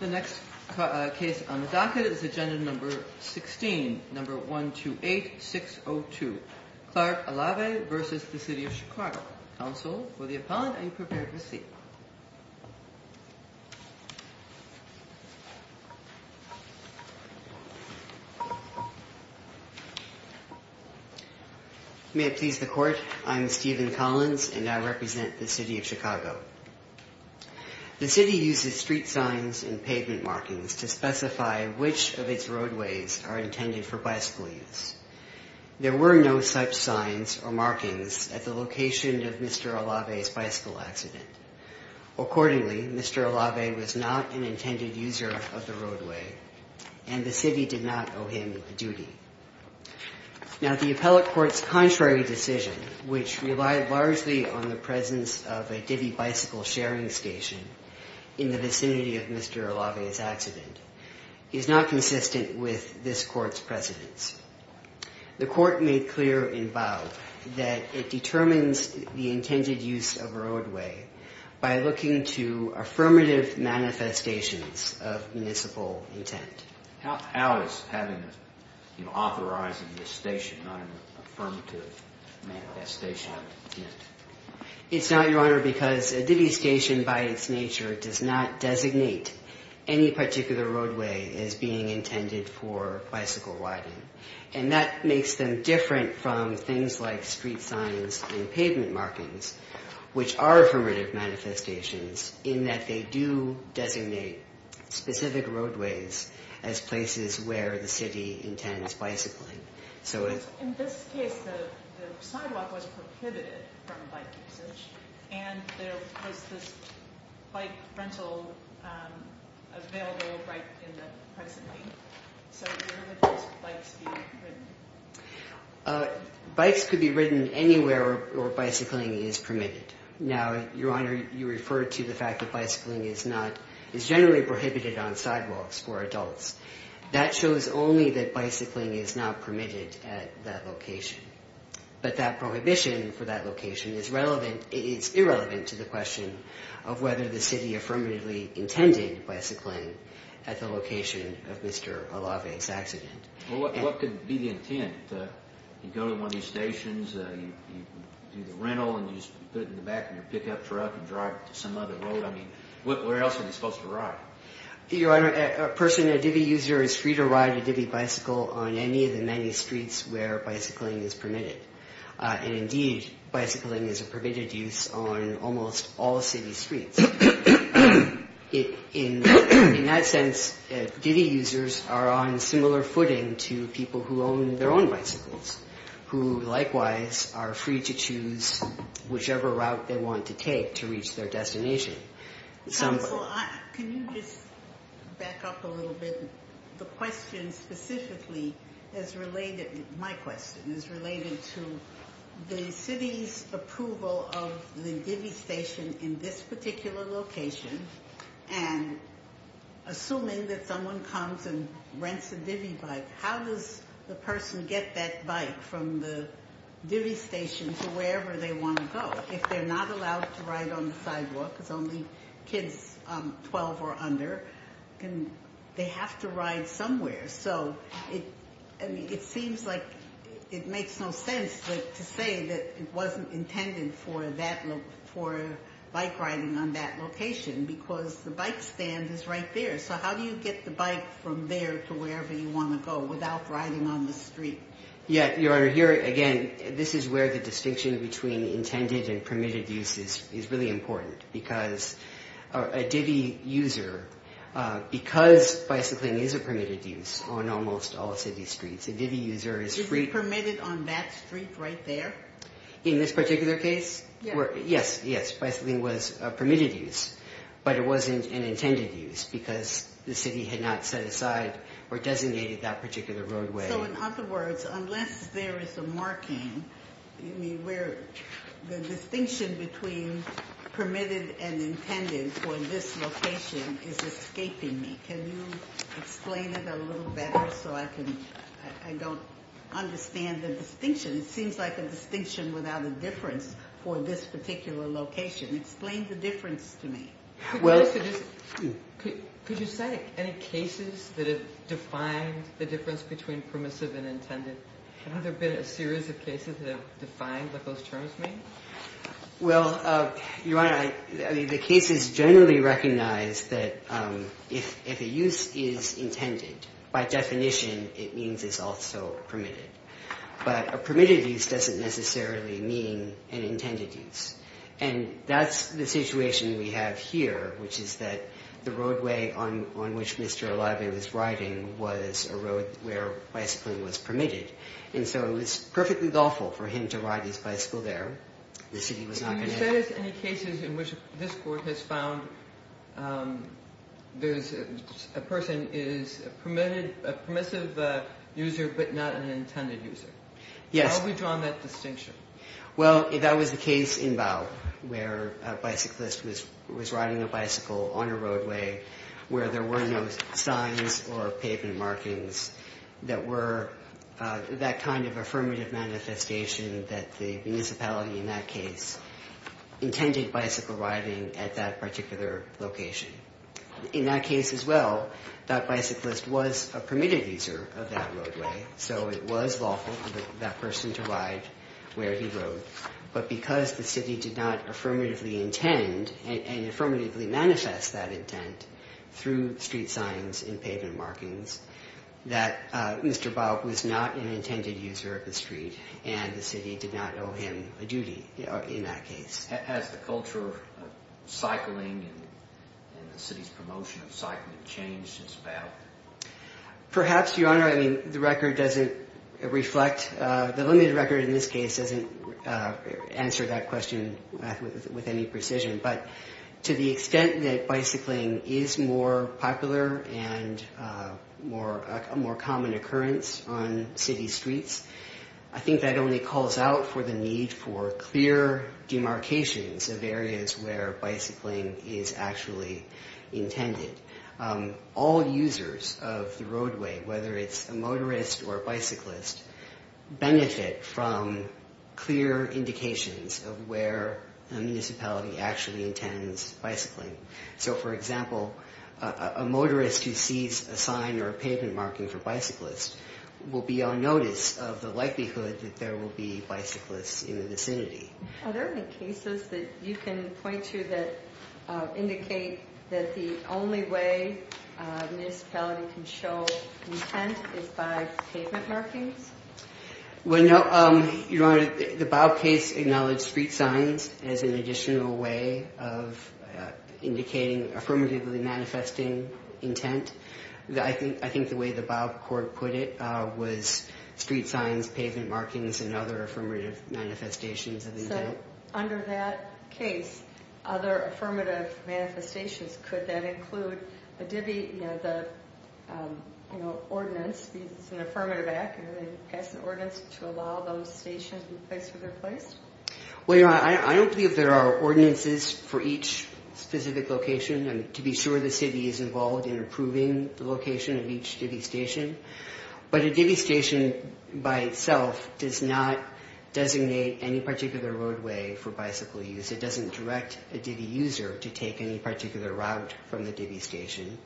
The next case on the docket is Agenda No. 16, No. 128602, Clark-Alave v. City of Chicago. Counsel for the appellant, are you prepared to see? May it please the Court, I'm Stephen Collins and I represent the City of Chicago. The City uses street signs and pavement markings to specify which of its roadways are intended for bicycle use. There were no such signs or markings at the location of Mr. Alave's bicycle accident. Accordingly, Mr. Alave was not an intended user of the roadway and the City did not owe him a duty. Now, the appellate court's contrary decision, which relied largely on the presence of a Diddy bicycle sharing station in the vicinity of Mr. Alave's accident, is not consistent with this court's precedents. The court made clear and vowed that it determines the intended use of a roadway by looking to affirmative manifestations of municipal intent. How is authorizing this station not an affirmative manifestation of municipal intent? It's not, Your Honor, because a Diddy station, by its nature, does not designate any particular roadway as being intended for bicycle riding. And that makes them different from things like street signs and pavement markings, which are affirmative manifestations, in that they do designate specific roadways as places where the City intends bicycling. In this case, the sidewalk was prohibited from bike usage, and there was this bike rental available right in the precinct. So where would those bikes be ridden? Bikes could be ridden anywhere where bicycling is permitted. Now, Your Honor, you refer to the fact that bicycling is generally prohibited on sidewalks for adults. That shows only that bicycling is not permitted at that location. But that prohibition for that location is irrelevant to the question of whether the City affirmatively intended bicycling at the location of Mr. Alave's accident. Well, what could be the intent? You go to one of these stations, you do the rental, and you just put it in the back of your pickup truck and drive it to some other road. I mean, where else are they supposed to ride? Your Honor, a person, a Diddy user, is free to ride a Diddy bicycle on any of the many streets where bicycling is permitted. And indeed, bicycling is a permitted use on almost all City streets. In that sense, Diddy users are on similar footing to people who own their own bicycles, who likewise are free to choose whichever route they want to take to reach their destination. Counsel, can you just back up a little bit? My question is related to the City's approval of the Diddy station in this particular location. And assuming that someone comes and rents a Diddy bike, how does the person get that bike from the Diddy station to wherever they want to go? If they're not allowed to ride on the sidewalk because only kids 12 or under, they have to ride somewhere. So it seems like it makes no sense to say that it wasn't intended for bike riding on that location because the bike stand is right there. So how do you get the bike from there to wherever you want to go without riding on the street? Your Honor, here again, this is where the distinction between intended and permitted use is really important. Because a Diddy user, because bicycling is a permitted use on almost all City streets, a Diddy user is free... Is it permitted on that street right there? In this particular case? Yes. Yes, bicycling was a permitted use, but it wasn't an intended use because the City had not set aside or designated that particular roadway. So in other words, unless there is a marking where the distinction between permitted and intended for this location is escaping me. Can you explain it a little better so I can... I don't understand the distinction. It seems like a distinction without a difference for this particular location. Explain the difference to me. Could you say any cases that have defined the difference between permissive and intended? Have there been a series of cases that have defined what those terms mean? Well, Your Honor, the cases generally recognize that if a use is intended, by definition, it means it's also permitted. But a permitted use doesn't necessarily mean an intended use. And that's the situation we have here, which is that the roadway on which Mr. O'Leary was riding was a road where bicycling was permitted. And so it was perfectly lawful for him to ride his bicycle there. The City was not going to... Can you say any cases in which this Court has found a person is a permissive user but not an intended user? Yes. How have we drawn that distinction? Well, that was the case in Bough where a bicyclist was riding a bicycle on a roadway where there were no signs or pavement markings that were that kind of affirmative manifestation that the municipality in that case intended bicycle riding at that particular location. In that case as well, that bicyclist was a permitted user of that roadway, so it was lawful for that person to ride where he rode. But because the City did not affirmatively intend and affirmatively manifest that intent through street signs and pavement markings, that Mr. Bough was not an intended user of the street and the City did not owe him a duty in that case. Has the culture of cycling and the City's promotion of cycling changed since Bough? Perhaps, Your Honor. I mean, the record doesn't reflect... The limited record in this case doesn't answer that question with any precision. But to the extent that bicycling is more popular and a more common occurrence on City streets, I think that only calls out for the need for clear demarcations of areas where bicycling is actually intended. All users of the roadway, whether it's a motorist or a bicyclist, benefit from clear indications of where a municipality actually intends bicycling. So, for example, a motorist who sees a sign or a pavement marking for bicyclists will be on notice of the likelihood that there will be bicyclists in the vicinity. Are there any cases that you can point to that indicate that the only way a municipality can show intent is by pavement markings? Well, no. Your Honor, the Bough case acknowledged street signs as an additional way of indicating affirmatively manifesting intent. I think the way the Bough court put it was street signs, pavement markings, and other affirmative manifestations of intent. So, under that case, other affirmative manifestations, could that include a divvy, you know, the ordinance, because it's an affirmative act and they pass an ordinance to allow those stations to be placed where they're placed? Well, Your Honor, I don't believe there are ordinances for each specific location. To be sure, the city is involved in approving the location of each divvy station. But a divvy station by itself does not designate any particular roadway for bicycle use. It doesn't direct a divvy user to take any particular route from the divvy station.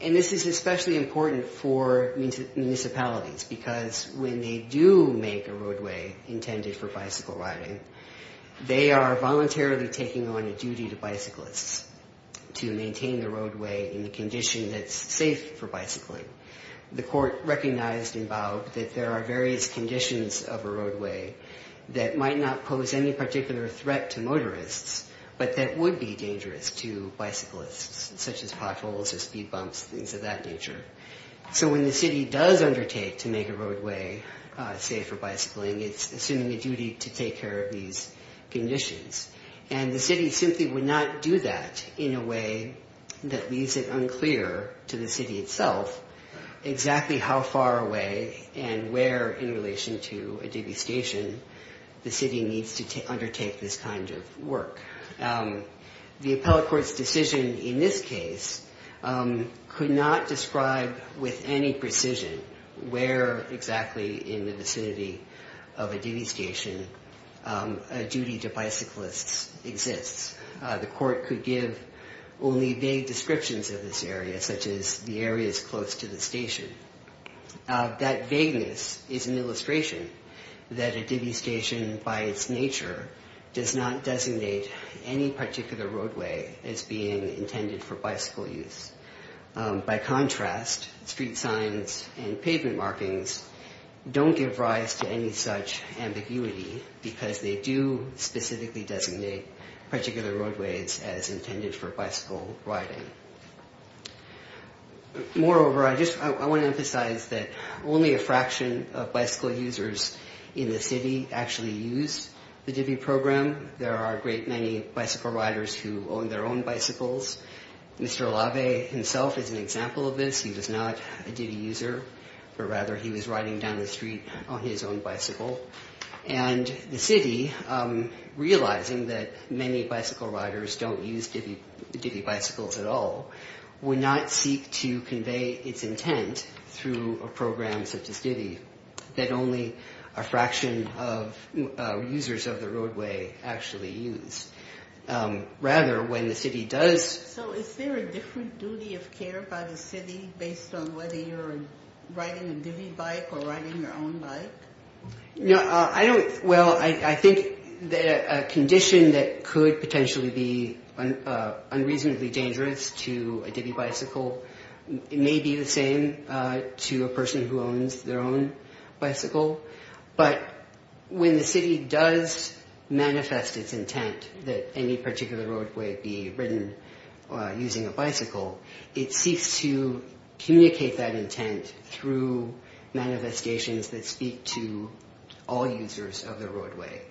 And this is especially important for municipalities because when they do make a roadway intended for bicycle riding, they are voluntarily taking on a duty to bicyclists to maintain the roadway in a condition that's safe for bicycling. The court recognized in Bough that there are various conditions of a roadway that might not pose any particular threat to motorists, but that would be dangerous to bicyclists, such as potholes or speed bumps, things of that nature. So when the city does undertake to make a roadway safe for bicycling, it's assuming a duty to take care of these conditions. And the city simply would not do that in a way that leaves it unclear to the city itself exactly how far away and where in relation to a divvy station the city needs to undertake this kind of work. The appellate court's decision in this case could not describe with any precision where exactly in the vicinity of a divvy station a duty to bicyclists exists. The court could give only vague descriptions of this area, such as the areas close to the station. That vagueness is an illustration that a divvy station by its nature does not designate any particular roadway as being intended for bicycle use. By contrast, street signs and pavement markings don't give rise to any such ambiguity because they do specifically designate particular roadways as intended for bicycle riding. Moreover, I want to emphasize that only a fraction of bicycle users in the city actually use the divvy program. There are a great many bicycle riders who own their own bicycles. Mr. Olave himself is an example of this. He was not a divvy user, but rather he was riding down the street on his own bicycle. And the city, realizing that many bicycle riders don't use divvy bicycles at all, would not seek to convey its intent through a program such as divvy that only a fraction of users of the roadway actually use. So is there a different duty of care by the city based on whether you're riding a divvy bike or riding your own bike? Well, I think a condition that could potentially be unreasonably dangerous to a divvy bicycle may be the same to a person who owns their own bicycle. But when the city does manifest its intent that any particular roadway be ridden using a bicycle, it seeks to communicate that intent through manifestations that speak to all users of the roadway,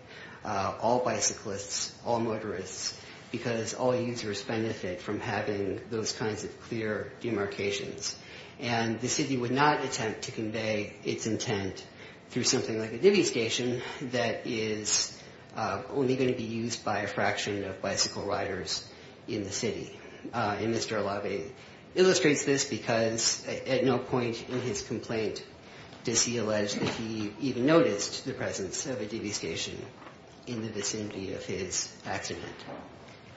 all bicyclists, all motorists, because all users benefit from having those kinds of clear demarcations. And the city would not attempt to convey its intent through something like a divvy station that is only going to be used by a fraction of bicycle riders in the city. And Mr. Olave illustrates this because at no point in his complaint does he allege that he even noticed the presence of a divvy station in the vicinity of his accident.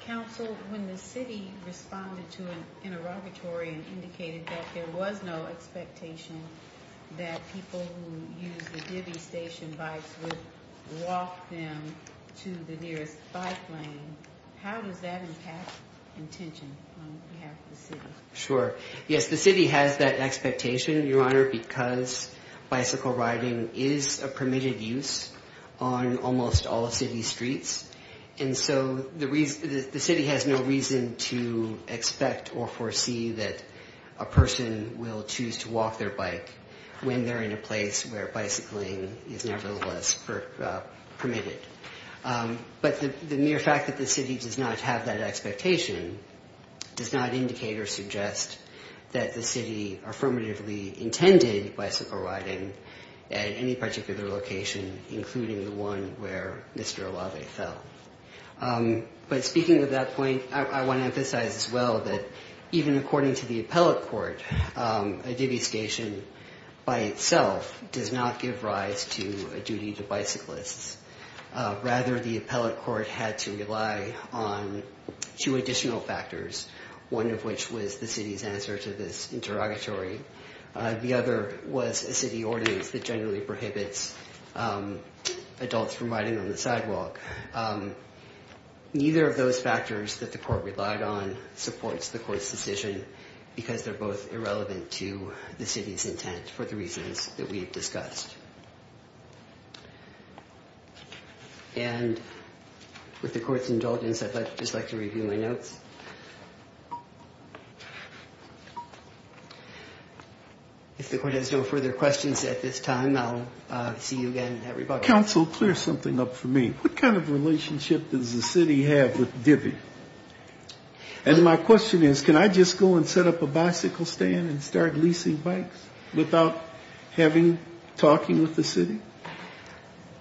Counsel, when the city responded to an interrogatory and indicated that there was no expectation that people who use the divvy station bikes would walk them to the nearest bike lane, how does that impact intention on behalf of the city? Sure. Yes, the city has that expectation, Your Honor, because bicycle riding is a permitted use on almost all city streets. And so the city has no reason to expect or foresee that a person will choose to walk their bike when they're in a place where bicycling is nevertheless permitted. But the mere fact that the city does not have that expectation does not indicate or suggest that the city affirmatively intended bicycle riding at any particular location, including the one where Mr. Olave fell. But speaking of that point, I want to emphasize as well that even according to the appellate court, a divvy station by itself does not give rise to a duty to bicyclists. Rather, the appellate court had to rely on two additional factors, one of which was the city's answer to this interrogatory. The other was a city ordinance that generally prohibits adults from riding on the sidewalk. Neither of those factors that the court relied on supports the court's decision because they're both irrelevant to the city's intent for the reasons that we've discussed. And with the court's indulgence, I'd just like to review my notes. If the court has no further questions at this time, I'll see you again at rebuttal. Counsel, clear something up for me. What kind of relationship does the city have with divvy? And my question is, can I just go and set up a bicycle stand and start leasing bikes without having talking with the city?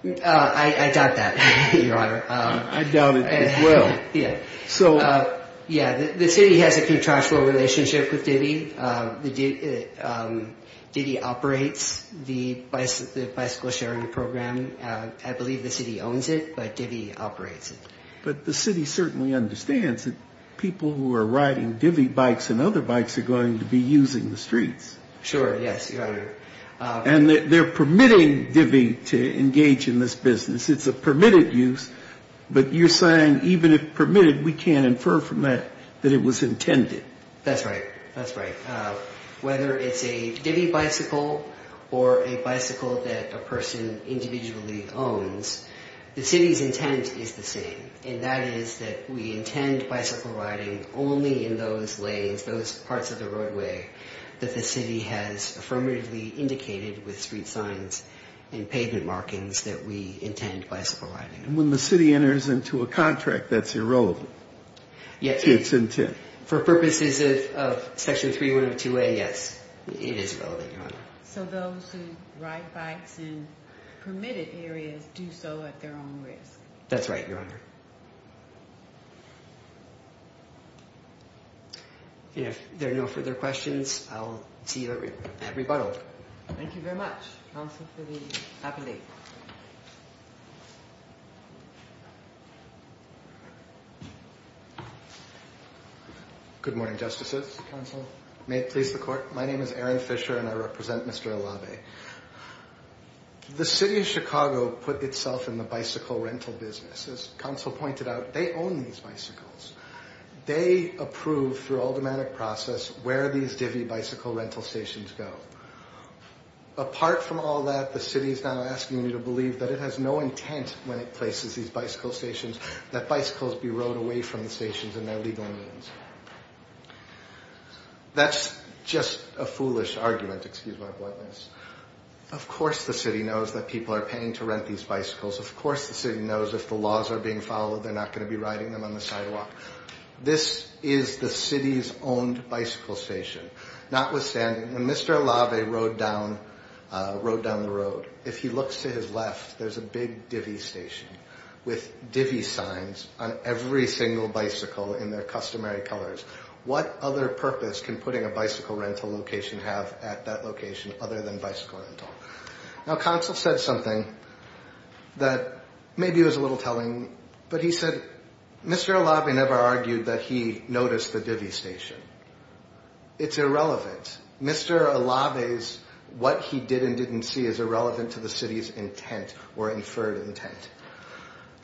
I doubt that, Your Honor. I doubt it as well. Yeah. So... Yeah, the city has a contractual relationship with divvy. Divvy operates the bicycle sharing program. I believe the city owns it, but divvy operates it. But the city certainly understands that people who are riding divvy bikes and other bikes are going to be using the streets. Sure, yes, Your Honor. And they're permitting divvy to engage in this business. It's a permitted use. But you're saying even if permitted, we can't infer from that that it was intended. That's right. That's right. Whether it's a divvy bicycle or a bicycle that a person individually owns, the city's intent is the same. And that is that we intend bicycle riding only in those lanes, those parts of the roadway that the city has affirmatively indicated with street signs and pavement markings that we intend bicycle riding. And when the city enters into a contract, that's irrelevant. Yes. It's intent. For purposes of Section 3102A, yes, it is relevant, Your Honor. So those who ride bikes in permitted areas do so at their own risk. That's right, Your Honor. If there are no further questions, I'll see you at rebuttal. Thank you very much. Counsel for the appellate. Good morning, Justices. Counsel, may it please the Court. My name is Aaron Fisher, and I represent Mr. Alave. The City of Chicago put itself in the bicycle rental business. As Counsel pointed out, they own these bicycles. They approve, through automatic process, where these divvy bicycle rental stations go. Apart from all that, the City is now asking me to believe that it has no intent, when it places these bicycle stations, that bicycles be rowed away from the stations in their legal means. That's just a foolish argument, excuse my bluntness. Of course the City knows that people are paying to rent these bicycles. Of course the City knows if the laws are being followed, they're not going to be riding them on the sidewalk. This is the City's owned bicycle station. Notwithstanding, when Mr. Alave rode down the road, if he looks to his left, there's a big divvy station, with divvy signs on every single bicycle in their customary colors. What other purpose can putting a bicycle rental location have at that location, other than bicycle rental? Now Counsel said something that maybe was a little telling, but he said, Mr. Alave never argued that he noticed the divvy station. It's irrelevant. Mr. Alave's what he did and didn't see is irrelevant to the City's intent, or inferred intent.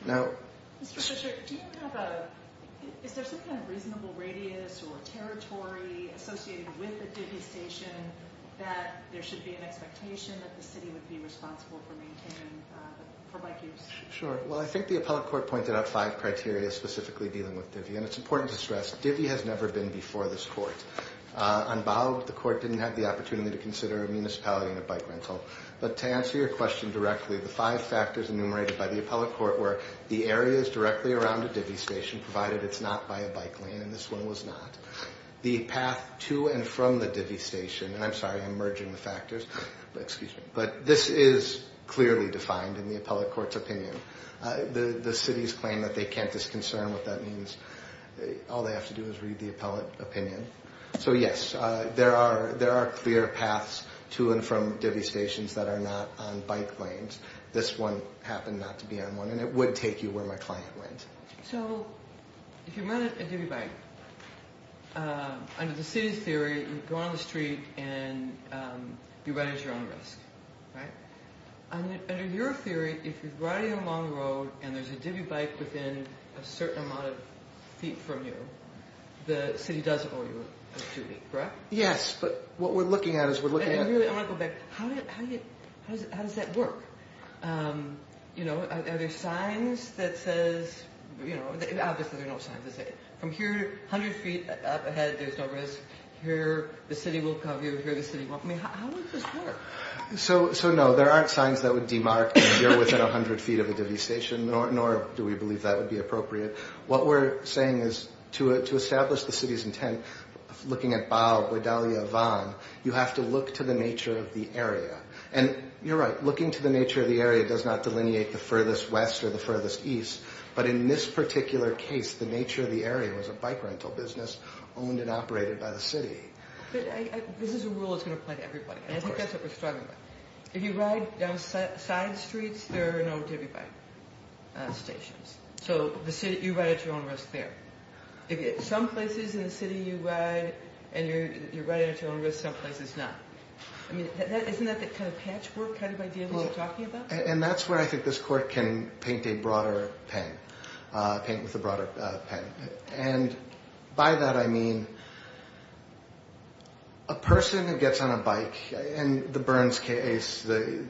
Mr. Fisher, do you have a, is there some kind of reasonable radius or territory associated with the divvy station that there should be an expectation that the City would be responsible for maintaining, for bike use? Sure, well I think the Appellate Court pointed out five criteria specifically dealing with divvy, and it's important to stress, divvy has never been before this Court. Unbowed, the Court didn't have the opportunity to consider a municipality and a bike rental. But to answer your question directly, the five factors enumerated by the Appellate Court were, the areas directly around a divvy station, provided it's not by a bike lane, and this one was not. The path to and from the divvy station, and I'm sorry I'm merging the factors, but this is clearly defined in the Appellate Court's opinion. The City's claim that they can't disconcern what that means, all they have to do is read the Appellate opinion. So yes, there are clear paths to and from divvy stations that are not on bike lanes. This one happened not to be on one, and it would take you where my client went. So, if you rent a divvy bike, under the City's theory, you go on the street and you run at your own risk, right? Under your theory, if you're riding along the road and there's a divvy bike within a certain amount of feet from you, the City does owe you a divvy, correct? Yes, but what we're looking at is we're looking at... And really, I want to go back, how does that work? You know, are there signs that says, you know, obviously there are no signs that say, from here, 100 feet up ahead, there's no risk, here the City will cover you, here the City won't. I mean, how does this work? So, no, there aren't signs that would demark if you're within 100 feet of a divvy station, nor do we believe that would be appropriate. What we're saying is, to establish the City's intent, looking at Bao, Guadalajara, Van, you have to look to the nature of the area. And you're right, looking to the nature of the area does not delineate the furthest west or the furthest east, but in this particular case, the nature of the area was a bike rental business owned and operated by the City. But this is a rule that's going to apply to everybody. Of course. And I think that's what we're struggling with. If you ride down side streets, there are no divvy bike stations. So, you ride at your own risk there. Some places in the City you ride and you're riding at your own risk, some places not. I mean, isn't that the kind of patchwork kind of idea that you're talking about? And that's where I think this Court can paint a broader pen, paint with a broader pen. And by that I mean, a person who gets on a bike, and the Burns case, there's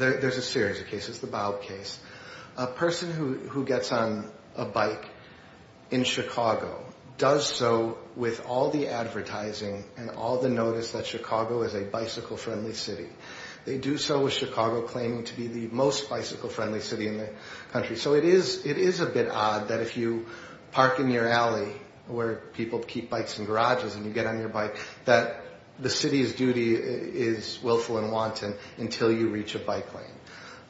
a series of cases, the Bao case. A person who gets on a bike in Chicago does so with all the advertising and all the notice that Chicago is a bicycle-friendly city. They do so with Chicago claiming to be the most bicycle-friendly city in the country. So, it is a bit odd that if you park in your alley where people keep bikes in garages and you get on your bike, that the City's duty is willful and wanton until you reach a bike lane.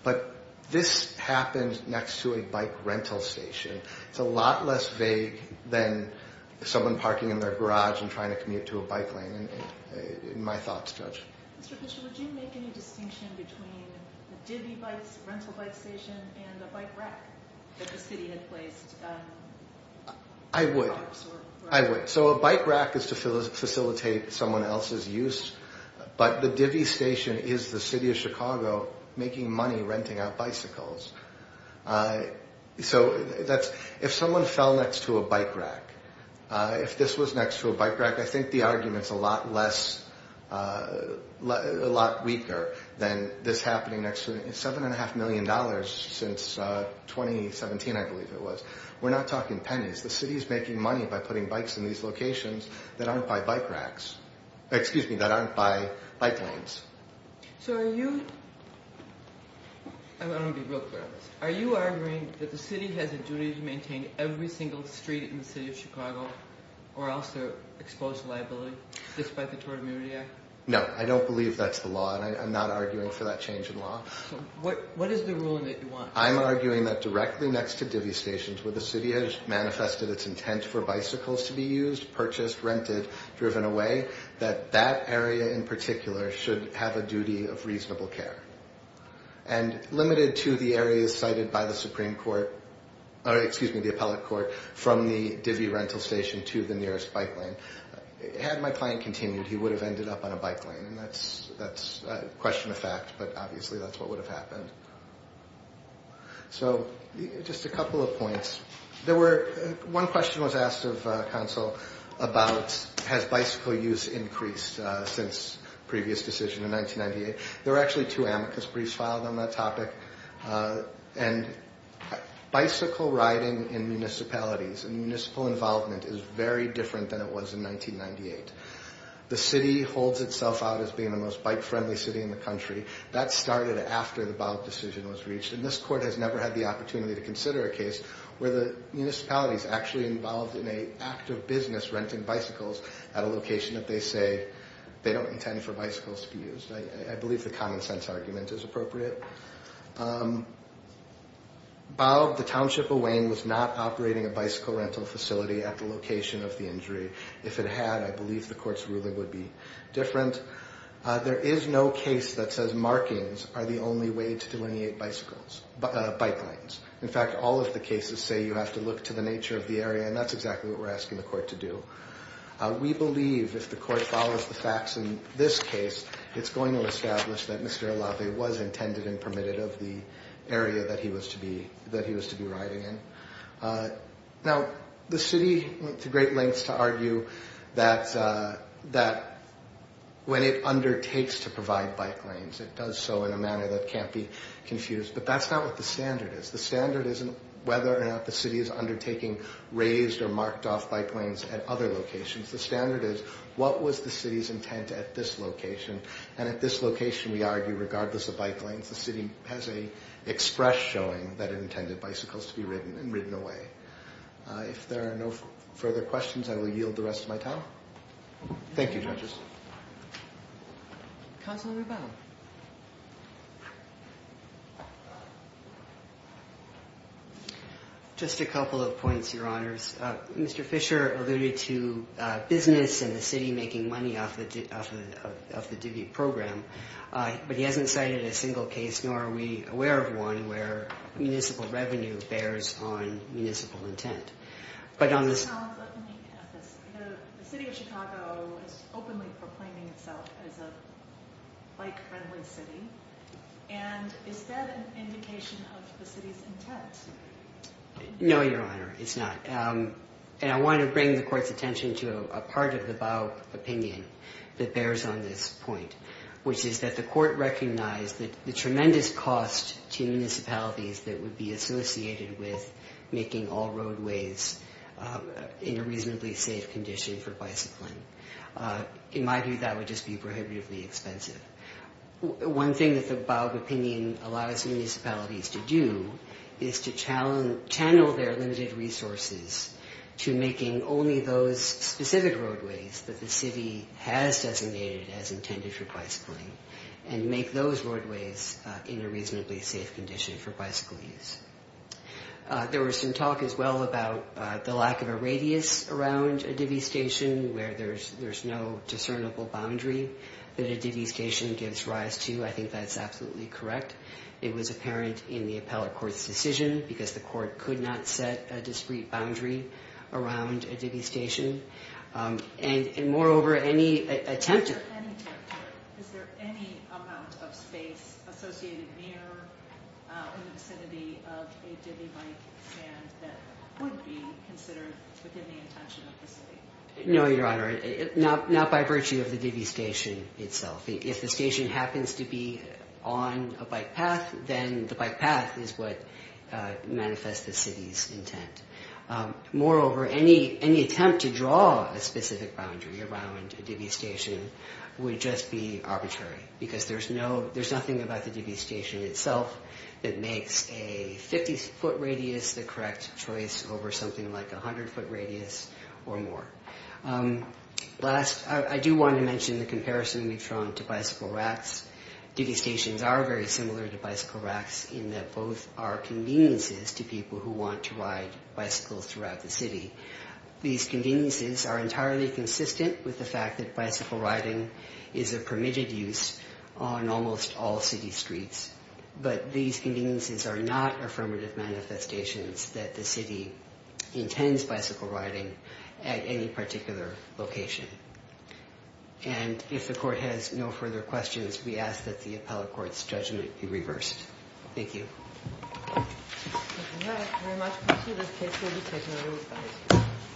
But this happens next to a bike rental station. It's a lot less vague than someone parking in their garage and trying to commute to a bike lane, in my thoughts, Judge. Mr. Pitcher, would you make any distinction between a divvy rental bike station and a bike rack that the City had placed? I would. I would. So, a bike rack is to facilitate someone else's use, but the divvy station is the City of Chicago making money renting out bicycles. So, if someone fell next to a bike rack, if this was next to a bike rack, I think the argument's a lot weaker than this happening next to it. Seven and a half million dollars since 2017, I believe it was. We're not talking pennies. The City's making money by putting bikes in these locations that aren't by bike racks. Excuse me, that aren't by bike lanes. So, are you... I want to be real clear on this. Are you arguing that the City has a duty to maintain every single street in the City of Chicago, or else they're exposed to liability, despite the Tort Immunity Act? No, I don't believe that's the law, and I'm not arguing for that change in law. What is the ruling that you want? I'm arguing that directly next to divvy stations, where the City has manifested its intent for bicycles to be used, purchased, rented, driven away, that that area in particular should have a duty of reasonable care. And limited to the areas cited by the Supreme Court, or excuse me, the Appellate Court, from the divvy rental station to the nearest bike lane. Had my client continued, he would have ended up on a bike lane, and that's a question of fact, but obviously that's what would have happened. So, just a couple of points. There were... one question was asked of Council about, has bicycle use increased since the previous decision in 1998? There were actually two amicus briefs filed on that topic, and bicycle riding in municipalities and municipal involvement is very different than it was in 1998. The City holds itself out as being the most bike-friendly city in the country. That started after the BAUB decision was reached, and this Court has never had the opportunity to consider a case where the municipality is actually involved in an act of business renting bicycles at a location that they say they don't intend for bicycles to be used. I believe the common sense argument is appropriate. BAUB, the Township of Wayne, was not operating a bicycle rental facility at the location of the injury. If it had, I believe the Court's ruling would be different. There is no case that says markings are the only way to delineate bike lanes. In fact, all of the cases say you have to look to the nature of the area, and that's exactly what we're asking the Court to do. We believe if the Court follows the facts in this case, it's going to establish that Mr. Allave was intended and permitted of the area that he was to be riding in. Now, the City went to great lengths to argue that when it undertakes to provide bike lanes, it does so in a manner that can't be confused, but that's not what the standard is. The standard isn't whether or not the City is undertaking raised or marked-off bike lanes at other locations. The standard is what was the City's intent at this location, and at this location we argue regardless of bike lanes, the City has an express showing that it intended bicycles to be ridden and ridden away. If there are no further questions, I will yield the rest of my time. Thank you, judges. Just a couple of points, Your Honors. Mr. Fisher alluded to business and the City making money off the DV program, but he hasn't cited a single case, nor are we aware of one, where municipal revenue bears on municipal intent. But on this... The City of Chicago is openly proclaiming itself as a bike-friendly city, and is that an indication of the City's intent? No, Your Honor, it's not. And I want to bring the Court's attention to a part of the Baub opinion that bears on this point, which is that the Court recognized the tremendous cost to municipalities that would be associated with making all roadways in a reasonably safe condition for bicycling. In my view, that would just be prohibitively expensive. One thing that the Baub opinion allows municipalities to do is to channel their limited resources to making only those specific roadways that the City has designated as intended for bicycling and make those roadways in a reasonably safe condition for bicycle use. There was some talk as well about the lack of a radius around a DV station where there's no discernible boundary that a DV station gives rise to. I think that's absolutely correct. It was apparent in the appellate court's decision, because the court could not set a discrete boundary around a DV station. And moreover, any attempt to... Is there any territory, is there any amount of space associated near or in the vicinity of a DV bike stand that would be considered within the intention of the City? No, Your Honor, not by virtue of the DV station itself. If the station happens to be on a bike path, then the bike path is what manifests the City's intent. Moreover, any attempt to draw a specific boundary around a DV station would just be arbitrary, because there's nothing about the DV station itself that makes a 50-foot radius the correct choice over something like a 100-foot radius or more. Last, I do want to mention the comparison we've drawn to bicycle racks. DV stations are very similar to bicycle racks in that both are conveniences to people who want to ride bicycles throughout the City. These conveniences are entirely consistent with the fact that bicycle riding is a permitted use on almost all City streets. But these conveniences are not affirmative manifestations that the City intends bicycle riding at any particular location. And if the Court has no further questions, we ask that the appellate court's judgment be reversed. Thank you, Your Honor.